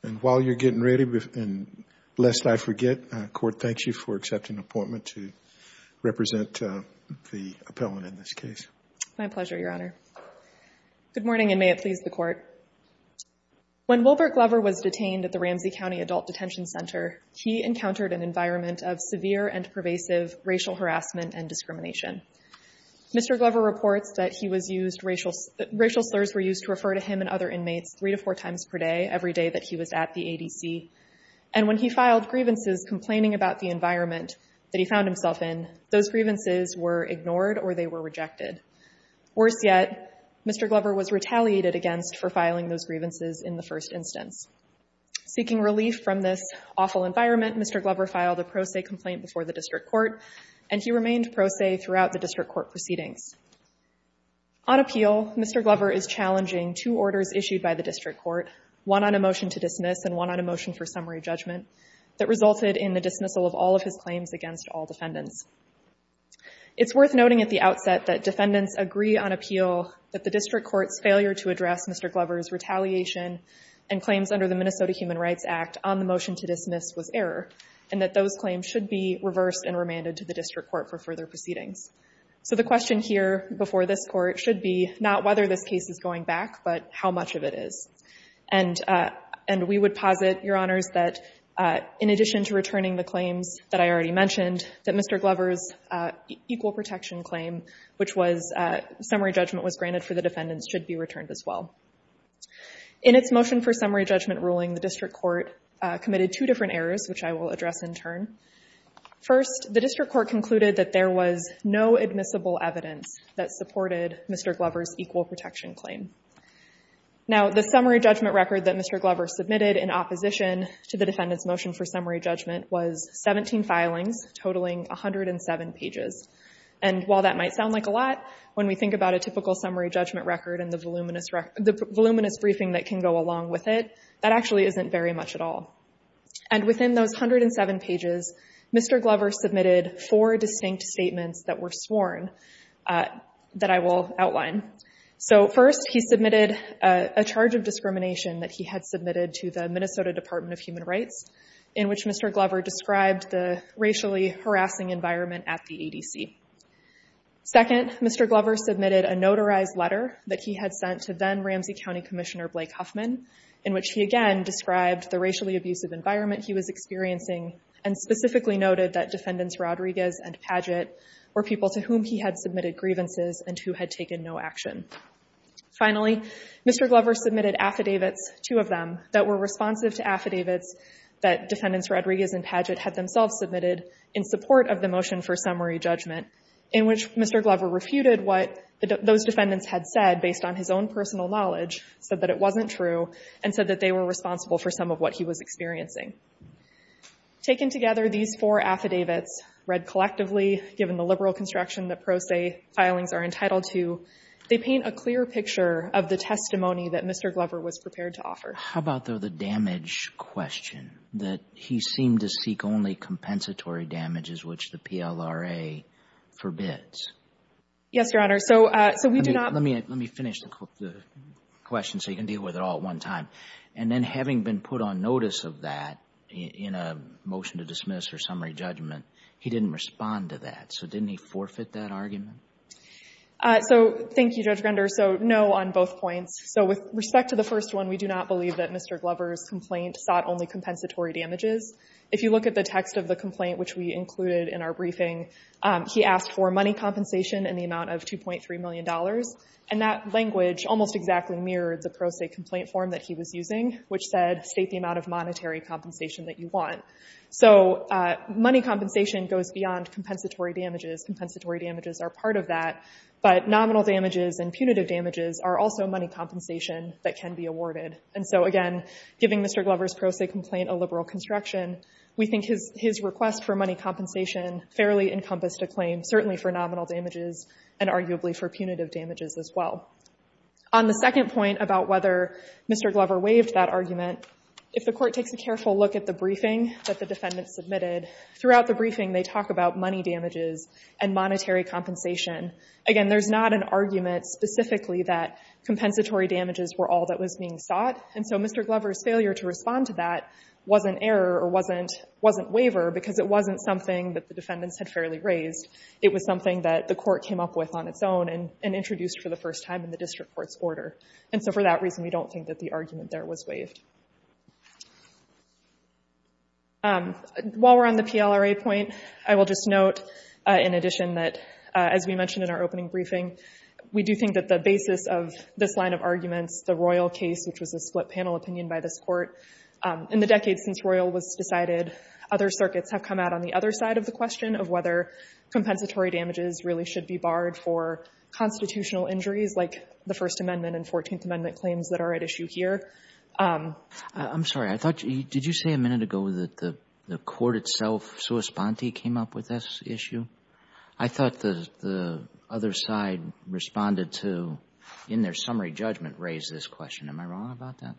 When Wilbert Glover was detained at the Ramsey County Adult Detention Center, he encountered an environment of severe and pervasive racial harassment and discrimination. Mr. Glover reports that racial slurs were used to refer to him and other inmates three to four times per day every day that he was at the ADC. And when he filed grievances complaining about the environment that he found himself in, those grievances were ignored or they were rejected. Worse yet, Mr. Glover was retaliated against for filing those grievances in the first instance. Seeking relief from this awful environment, Mr. Glover filed a pro se complaint before the district court, and he remained pro se throughout the district court proceedings. On appeal, Mr. Glover is challenging two orders issued by the district court, one on a motion to dismiss and one on a motion for summary judgment, that resulted in the dismissal of all of his claims against all defendants. It's worth noting at the outset that defendants agree on appeal that the district court's failure to address Mr. Glover's retaliation and claims under the Minnesota Human Rights Act on the motion to dismiss was error and that those claims should be reversed and remanded to the district court for further proceedings. So the question here before this court should be not whether this case is going back, but how much of it is. And we would posit, Your Honors, that in addition to returning the claims that I already mentioned, that Mr. Glover's equal protection claim, which was summary judgment was granted for the defendants, should be returned as well. In its motion for summary judgment ruling, the district court committed two different errors, which I will address in turn. First, the district court concluded that there was no admissible evidence that supported Mr. Glover's equal protection claim. Now, the summary judgment record that Mr. Glover submitted in opposition to the defendant's motion for summary judgment was 17 filings, totaling 107 pages. And while that might sound like a lot, when we think about a typical summary judgment record and the voluminous briefing that can go along with it, that actually isn't very much at all. And within those 107 pages, Mr. Glover submitted four distinct statements that were sworn, that I will outline. So first, he submitted a charge of discrimination that he had submitted to the Minnesota Department of Human Rights, in which Mr. Glover described the racially harassing environment at the ADC. Second, Mr. Glover submitted a notarized letter that he had sent to then-Ramsey County Commissioner Blake Huffman, in which he again described the racially abusive environment he was experiencing and specifically noted that Defendants Rodriguez and Padgett were people to whom he had submitted grievances and who had taken no action. Finally, Mr. Glover submitted affidavits, two of them, that were responsive to affidavits that Defendants Rodriguez and Padgett had themselves submitted in support of the motion for summary judgment, in which Mr. Glover refuted what those defendants had said based on his own personal knowledge so that it wasn't true and said that they were responsible for some of what he was experiencing. Taken together, these four affidavits read collectively, given the liberal construction that pro se filings are entitled to, they paint a clear picture of the testimony that Mr. Glover was prepared to offer. How about though the damage question, that he seemed to seek only compensatory damages which the PLRA forbids? Yes, Your Honor. So, so we do not... Let me, let me finish the question so you can deal with it all at one time. And then having been put on notice of that in a motion to dismiss or summary judgment, he didn't respond to that. So didn't he forfeit that argument? So thank you, Judge Render. So no on both points. So with respect to the first one, we do not believe that Mr. Glover's complaint sought only compensatory damages. If you look at the text of the complaint, which we included in our briefing, he asked for that language almost exactly mirrored the pro se complaint form that he was using, which said, state the amount of monetary compensation that you want. So money compensation goes beyond compensatory damages. Compensatory damages are part of that, but nominal damages and punitive damages are also money compensation that can be awarded. And so again, giving Mr. Glover's pro se complaint a liberal construction, we think his, his request for money compensation fairly encompassed a claim, certainly for nominal damages and arguably for punitive damages as well. On the second point about whether Mr. Glover waived that argument, if the court takes a careful look at the briefing that the defendants submitted, throughout the briefing, they talk about money damages and monetary compensation. Again, there's not an argument specifically that compensatory damages were all that was being sought. And so Mr. Glover's failure to respond to that was an error or wasn't, wasn't waiver because it wasn't something that the defendants had fairly raised. It was something that the court came up with on its own and introduced for the first time in the district court's order. And so for that reason, we don't think that the argument there was waived. While we're on the PLRA point, I will just note in addition that, as we mentioned in our opening briefing, we do think that the basis of this line of arguments, the Royal case, which was a split panel opinion by this court, in the decades since Royal was decided, other circuits have come out on the other side of the question of whether compensatory damages really should be barred for constitutional injuries like the First Amendment and Fourteenth Amendment claims that are at issue here. I'm sorry. I thought you, did you say a minute ago that the court itself, sua sponte, came up with this issue? I thought the other side responded to, in their summary judgment, raised this question. Am I wrong about that?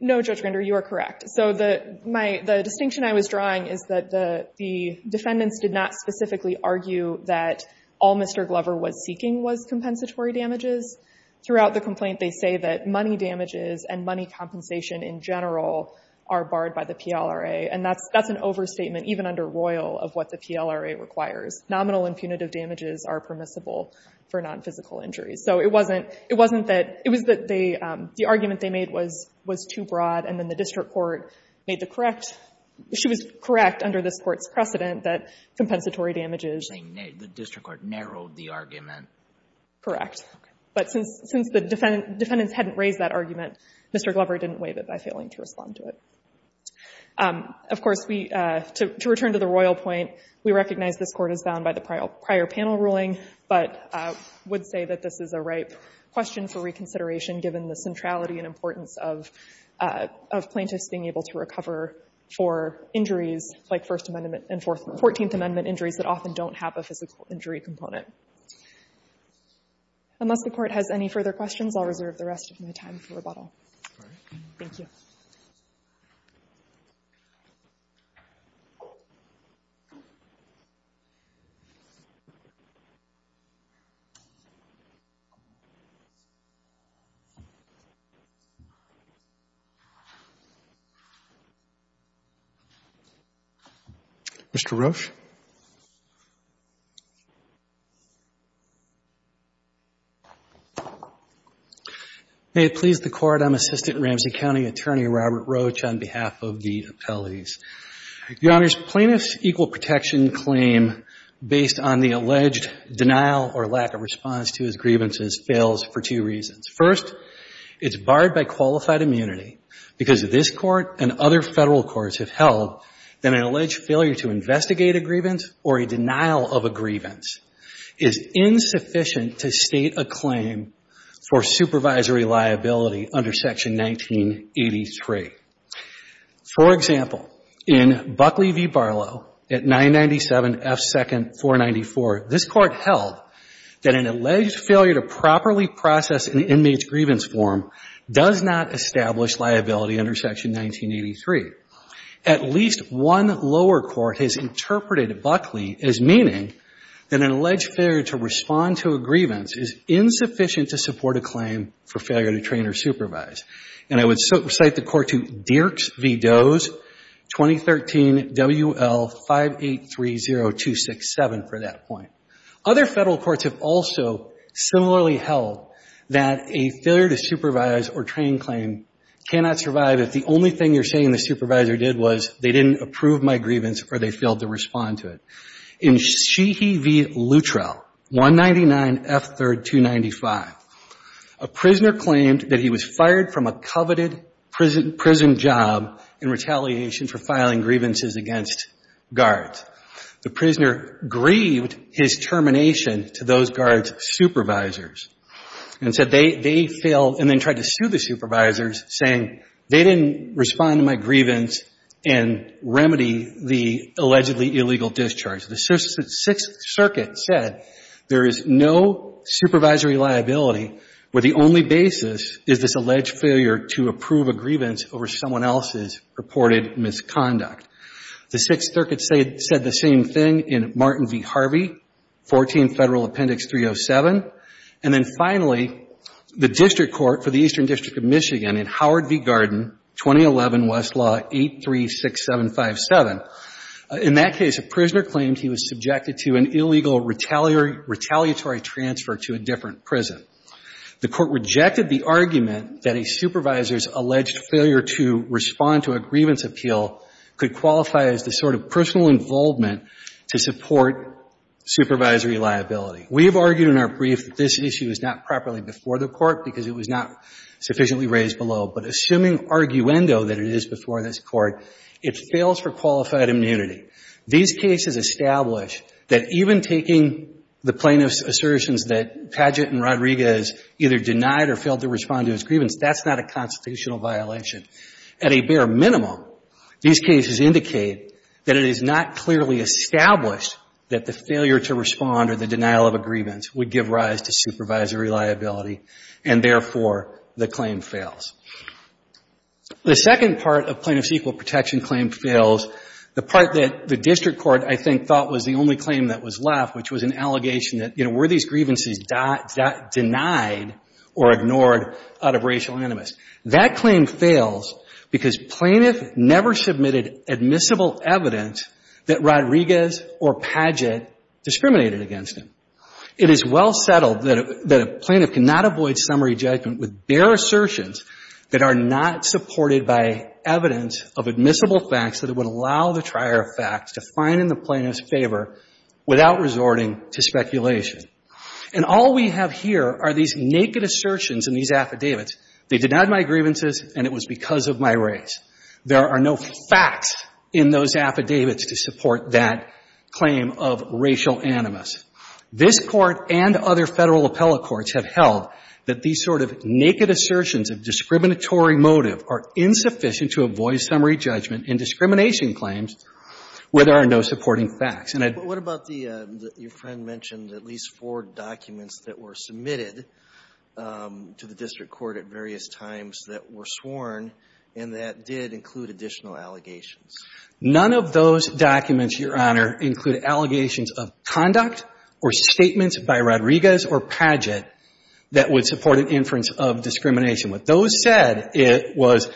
No, Judge Grander, you are correct. So the distinction I was drawing is that the defendants did not specifically argue that all Mr. Glover was seeking was compensatory damages. Throughout the complaint, they say that money damages and money compensation in general are barred by the PLRA. And that's an overstatement, even under Royal, of what the PLRA requires. Nominal and punitive damages are permissible for non-physical injuries. So it wasn't that, it was that the argument they made was too broad. And then the district court made the correct, she was correct under this court's precedent that compensatory damages. You're saying the district court narrowed the argument? Correct. But since the defendants hadn't raised that argument, Mr. Glover didn't waive it by failing to respond to it. Of course, to return to the Royal point, we recognize this court is bound by the prior panel ruling, but would say that this is a ripe question for reconsideration given the centrality and importance of plaintiffs being able to recover for injuries like First Amendment and 14th Amendment injuries that often don't have a physical injury component. Unless the court has any further questions, I'll reserve the rest of my time for rebuttal. Thank you. Mr. Roach. May it please the Court, I'm Assistant Ramsey County Attorney Robert Roach on behalf of the District Court. I want to make a couple of points. First, the state's protection claim based on the alleged denial or lack of response to his grievances fails for two reasons. First, it's barred by qualified immunity because this Court and other federal courts have held that an alleged failure to investigate a grievance or a denial of a grievance is insufficient to state a claim for supervisory liability under Section 1983. For example, in Buckley v. Barlow at 997 F. 2nd 494, this Court held that an alleged failure to properly process an inmate's grievance form does not establish liability under Section 1983. At least one lower court has interpreted Buckley as meaning that an alleged failure to respond to a grievance is insufficient to support a claim for failure to train or supervise. And I would cite the court to Dierks v. Doe's 2013 WL5830267 for that point. Other federal courts have also similarly held that a failure to supervise or train claim cannot survive if the only thing you're saying the supervisor did was they didn't approve my grievance or they failed to respond to it. In Sheehy v. Luttrell, 199 F. 3rd 295, a prisoner claimed that he was fired from a coveted prison job in retaliation for filing grievances against guards. The prisoner grieved his termination to those guards' supervisors and said they failed and then tried to sue the supervisors saying they didn't respond to my grievance and remedy the allegedly illegal discharge. The Sixth Circuit said there is no supervisory liability where the only basis is this alleged failure to approve a grievance over someone else's purported misconduct. The Sixth Circuit said the same thing in Martin v. Harvey, 14 Federal Appendix 307. And then finally, the district court for the Eastern District of Michigan in Howard v. Garden, 2011 Westlaw 836757. In that case, a prisoner claimed he was subjected to an illegal retaliatory transfer to a different prison. The court rejected the argument that a supervisor's alleged failure to respond to a grievance appeal could qualify as personal involvement to support supervisory liability. We have argued in our brief that this issue is not properly before the court because it was not sufficiently raised below. But assuming arguendo that it is before this court, it fails for qualified immunity. These cases establish that even taking the plaintiff's assertions that Padgett and Rodriguez either denied or failed to respond to his grievance, that's not a constitutional violation. At a bare minimum, these cases indicate that it is not clearly established that the failure to respond or the denial of a grievance would give rise to supervisory liability and therefore the claim fails. The second part of plaintiff's equal protection claim fails, the part that the district court, I think, thought was the only claim that was left, which was an allegation that, you know, were these grievances denied or ignored out of racial That claim fails because plaintiff never submitted admissible evidence that Rodriguez or Padgett discriminated against him. It is well settled that a plaintiff cannot avoid summary judgment with bare assertions that are not supported by evidence of admissible facts that would allow the trier of facts to find in the plaintiff's favor without resorting to They denied my grievances, and it was because of my race. There are no facts in those affidavits to support that claim of racial animus. This Court and other Federal appellate courts have held that these sort of naked assertions of discriminatory motive are insufficient to avoid summary judgment in discrimination claims where there are no supporting facts. And I'd But what about the — your friend mentioned at least four documents that were submitted to the district court at various times that were sworn and that did include additional allegations. None of those documents, Your Honor, include allegations of conduct or statements by Rodriguez or Padgett that would support an inference of discrimination. What those said, it was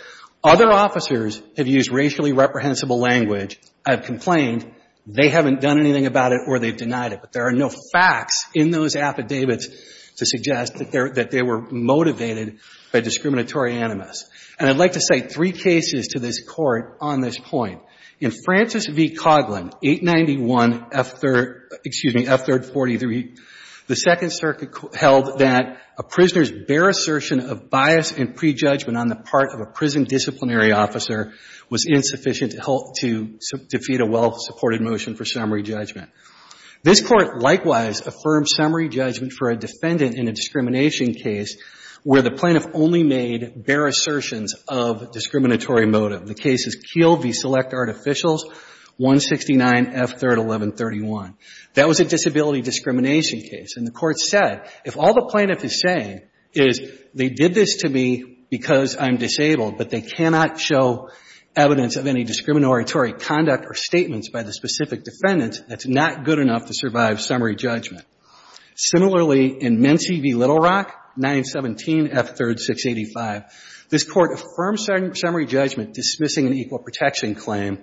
other officers have used racially reprehensible language. I've complained. They haven't done anything about it or they've denied it. But there are facts in those affidavits to suggest that they were motivated by discriminatory animus. And I'd like to cite three cases to this Court on this point. In Francis v. Coughlin, 891 F-3rd — excuse me, F-3rd 43, the Second Circuit held that a prisoner's bare assertion of bias and prejudgment on the part of a prison disciplinary officer was insufficient to defeat a well-supported motion for summary judgment. This Court likewise affirmed summary judgment for a defendant in a discrimination case where the plaintiff only made bare assertions of discriminatory motive. The case is Keele v. Select Artificials, 169 F-3rd 1131. That was a disability discrimination case. And the Court said, if all the plaintiff is saying is they did this to me because I'm disabled, but they cannot show evidence of any discriminatory conduct or statements by the specific defendant, that's not good enough to survive summary judgment. Similarly, in Menci v. Little Rock, 917 F-3rd 685, this Court affirmed summary judgment dismissing an equal protection claim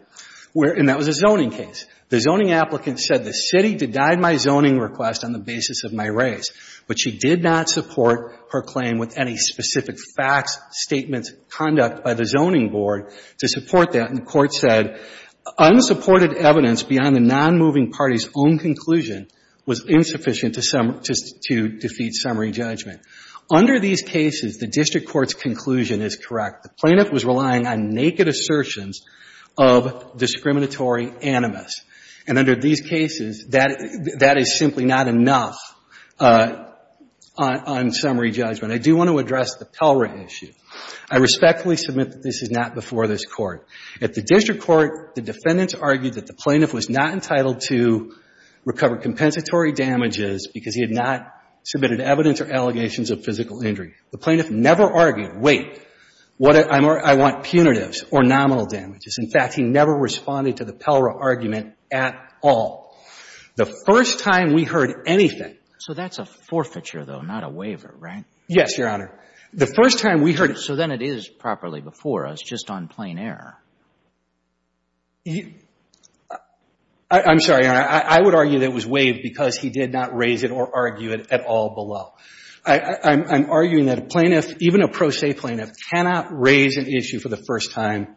where — and that was a zoning case. The zoning applicant said the city denied my zoning request on the basis of my race. But she did not support her claim with any specific facts, statements, conduct by the zoning board to support that. And the Court said unsupported evidence beyond the nonmoving party's own conclusion was insufficient to — to defeat summary judgment. Under these cases, the district court's conclusion is correct. The plaintiff was relying on naked assertions of discriminatory animus. And under these cases, that is simply not enough on summary judgment. I do want to address the PELRA issue. I respectfully submit that this is not before this Court. At the district court, the defendants argued that the plaintiff was not entitled to recover compensatory damages because he had not submitted evidence or allegations of physical injury. The plaintiff never argued, wait, what — I want punitives or nominal damages. In fact, he never responded to the PELRA argument at all. The first time we heard anything — So that's a forfeiture, though, not a waiver, right? Yes, Your Honor. The first time we heard — So then it is properly before us, just on plain error. I'm sorry, Your Honor. I would argue that it was waived because he did not raise it or argue it at all below. I'm arguing that a plaintiff, even a pro se plaintiff, cannot raise an issue for the first time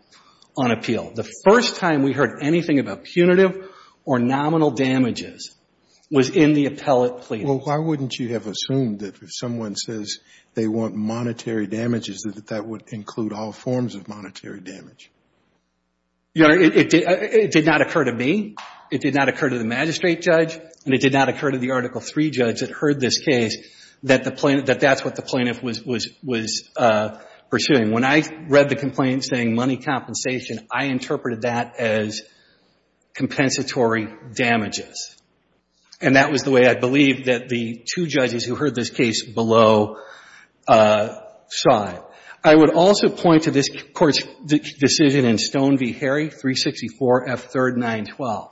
on appeal. The first time we heard anything about punitive or nominal damages was in the appellate plea. Well, why wouldn't you have assumed that if someone says they want monetary damages, that that would include all forms of monetary damage? Your Honor, it did not occur to me. It did not occur to the magistrate judge. And it did not occur to the Article III judge that heard this case that the — that that's what the plaintiff was pursuing. When I read the complaint saying money compensation, I interpreted that as compensatory damages. And that was the way that the two judges who heard this case below saw it. I would also point to this Court's decision in Stone v. Harry, 364 F. 3rd 912.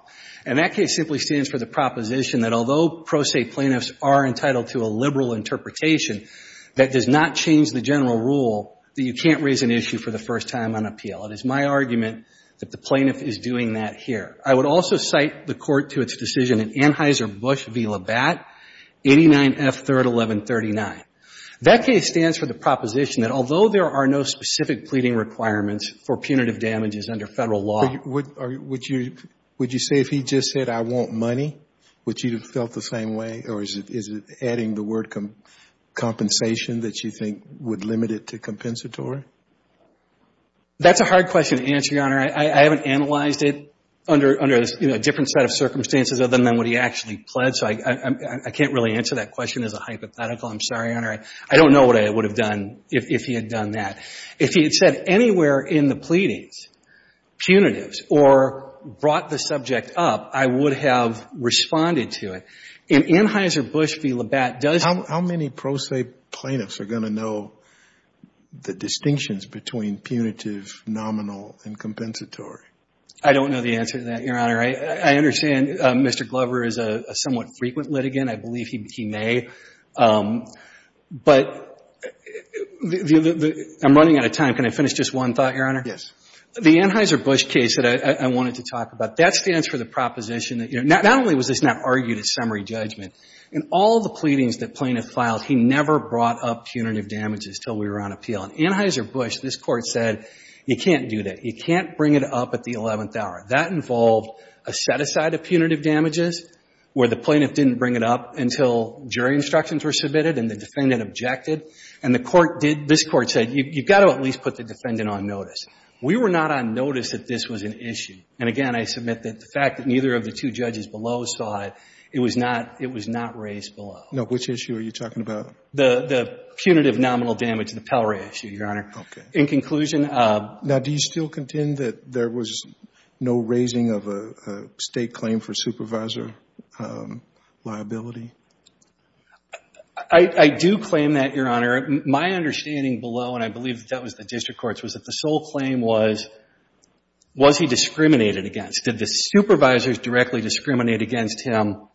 And that case simply stands for the proposition that although pro se plaintiffs are entitled to a liberal interpretation, that does not change the general rule that you can't raise an issue for the first time on appeal. It is my argument that the plaintiff is doing that here. I would also cite the Court to its decision in Anheuser-Busch v. Labatt, 89 F. 3rd 1139. That case stands for the proposition that although there are no specific pleading requirements for punitive damages under Federal law — But would you — would you say if he just said I want money, would you have felt the same way? Or is it — is it adding the word compensation that you think would limit it to compensatory? That's a hard question to answer, Your Honor. I haven't analyzed it under — under a different set of circumstances other than what he actually pled. So I can't really answer that question as a hypothetical. I'm sorry, Your Honor. I don't know what I would have done if he had done that. If he had said anywhere in the pleadings, punitives, or brought the subject up, I would have responded to it. In Anheuser-Busch v. Labatt, does — How many pro se plaintiffs are going to know the distinctions between punitive, nominal, and compensatory? I don't know the answer to that, Your Honor. I understand Mr. Glover is a somewhat frequent litigant. I believe he may. But the — I'm running out of time. Can I finish just one thought, Your Honor? Yes. The Anheuser-Busch case that I wanted to talk about, that stands for the proposition — not only was this not argued at summary judgment, in all the pleadings that plaintiff filed, he never brought up punitive damages until we were on appeal. In Anheuser-Busch, this Court said, you can't do that. You can't bring it up at the 11th hour. That involved a set-aside of punitive damages where the plaintiff didn't bring it up until jury instructions were submitted and the defendant objected. And the Court did — this Court said, you've got to at least put the defendant on notice. We were not on notice that this was an issue. And again, I believe the two judges below saw it. It was not — it was not raised below. Now, which issue are you talking about? The — the punitive nominal damage, the Pell-Ray issue, Your Honor. Okay. In conclusion — Now, do you still contend that there was no raising of a — a state claim for supervisor liability? I — I do claim that, Your Honor. My understanding below, and I believe that was the district courts, was that the sole claim was, was he discriminated against? Did the supervisors directly discriminate against him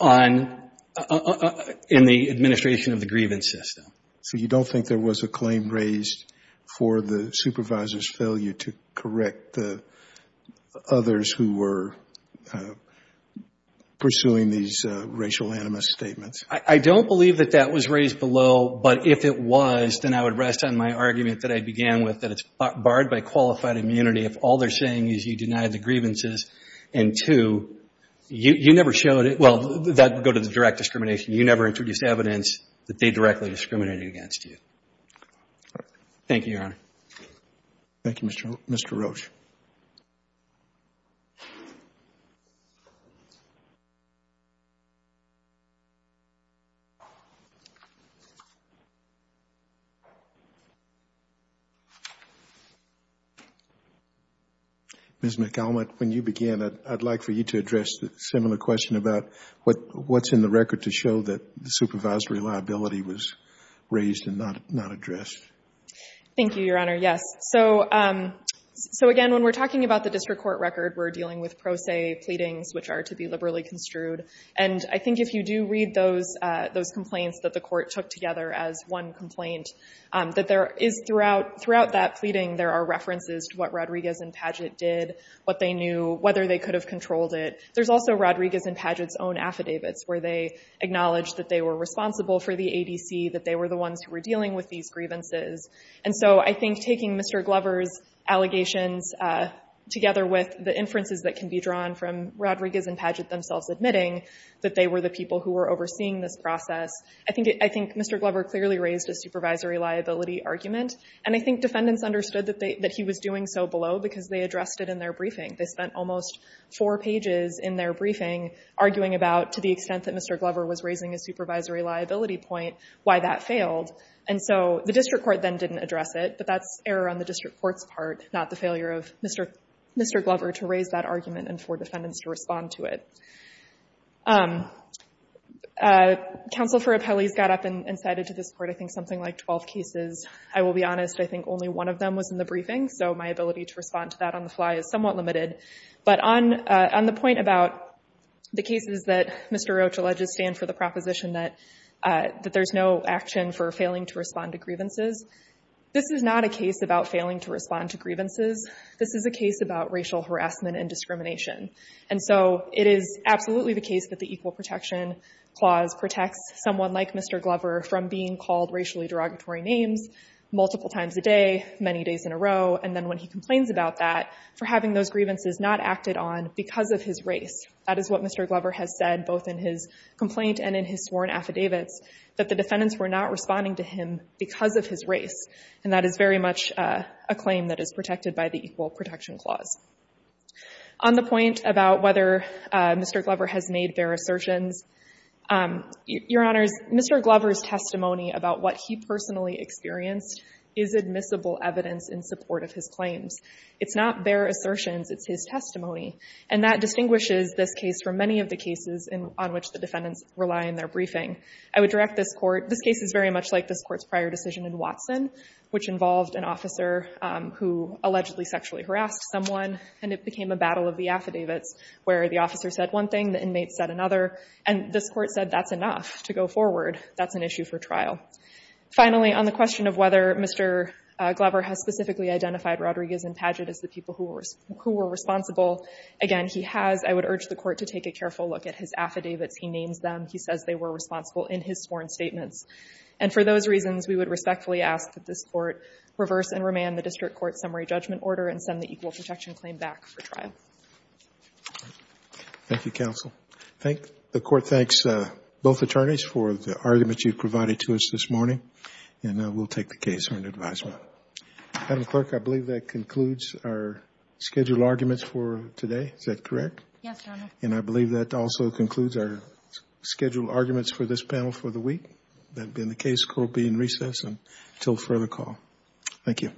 on — in the administration of the grievance system? So you don't think there was a claim raised for the supervisor's failure to correct the others who were pursuing these racial animus statements? I — I don't believe that that was raised below. But if it was, then I would rest on my argument that I began with, that it's barred by qualified immunity if all they're saying is you denied the grievances, and two, you — you never showed it — well, that would go to the direct discrimination. You never introduced evidence that they directly discriminated against you. Thank you, Your Honor. Thank you, Mr. — Mr. Roach. Ms. McCallum, when you began, I'd like for you to address the similar question about what — what's in the record to show that the supervisory liability was raised and not — not addressed? Thank you, Your Honor. Yes. So — so again, when we're talking about the district court record, we're dealing with pro se pleadings, which are to be liberally construed. And I think if you do read those — those complaints that the court took together as one complaint, that there is throughout — throughout that pleading, there are references to what Rodriguez and Padgett did, what they knew, whether they could have controlled it. There's also Rodriguez and Padgett's own affidavits, where they acknowledge that they were responsible for the ADC, that they were the ones who were dealing with these grievances. And so I think taking Mr. Glover's allegations together with the inferences that can be drawn from Rodriguez and Padgett themselves admitting that they were the people who were overseeing this process, I think — I think Mr. Glover clearly raised a supervisory liability argument. And I think defendants understood that they — that he was doing so below because they addressed it in their briefing. They spent almost four pages in their briefing arguing about, to the extent that Mr. Glover was raising a supervisory liability point, why that failed. And so the district court then didn't address it, but that's error on the district court's part, not the failure of Mr. — Mr. Glover to raise that argument and for defendants to respond to it. Counsel for Appellees got up and cited to this court, I think, something like 12 cases. I will be honest, I think only one of them was in the briefing, so my ability to respond to that on the fly is somewhat limited. But on — on the point about the cases that Mr. Roach alleges stand for the proposition that — that there's no action for failing to respond to grievances, this is not a case about failing to respond to grievances. This is a case about racial harassment and discrimination. And so it is absolutely the case that the Equal Protection Clause protects someone like Mr. Glover from being called racially derogatory names multiple times a day, many days in a row, and then when he complains about that, for having those grievances not acted on because of his race. That is what Mr. Glover has said, both in his complaint and in his sworn affidavits, that the defendants were not responding to him because of his race. And that is very much a claim that is protected by the Equal Protection Clause. On the point about whether Mr. Glover has made bare assertions, Your Honors, Mr. Glover's testimony about what he personally experienced is admissible evidence in support of his claims. It's not bare assertions, it's his testimony. And that distinguishes this case from many of the cases on which the defendants rely in their briefing. I would direct this Court — this case is very much like this Court's prior decision in Watson, which involved an officer who allegedly sexually harassed someone, and it became a battle of the affidavits, where the officer said one thing, the inmate said another, and this Court said that's enough to go forward. That's an issue for trial. Finally, on the question of whether Mr. Glover has specifically identified Rodriguez and Paget as the people who were responsible, again, he has. I would urge the Court to take a careful look at his affidavits. He names them. He says they were responsible in his sworn statements. And for those reasons, we would respectfully ask that this Court reverse and remand the district court summary judgment order and send the equal protection claim back for trial. Thank you, counsel. Thank — the Court thanks both attorneys for the argument you provided to us this morning, and we'll take the case for an advisement. Madam Clerk, I believe that concludes our scheduled arguments for today. Is that correct? Yes, Your Honor. And I believe that also concludes our scheduled arguments for this panel for the hearing. Thank you.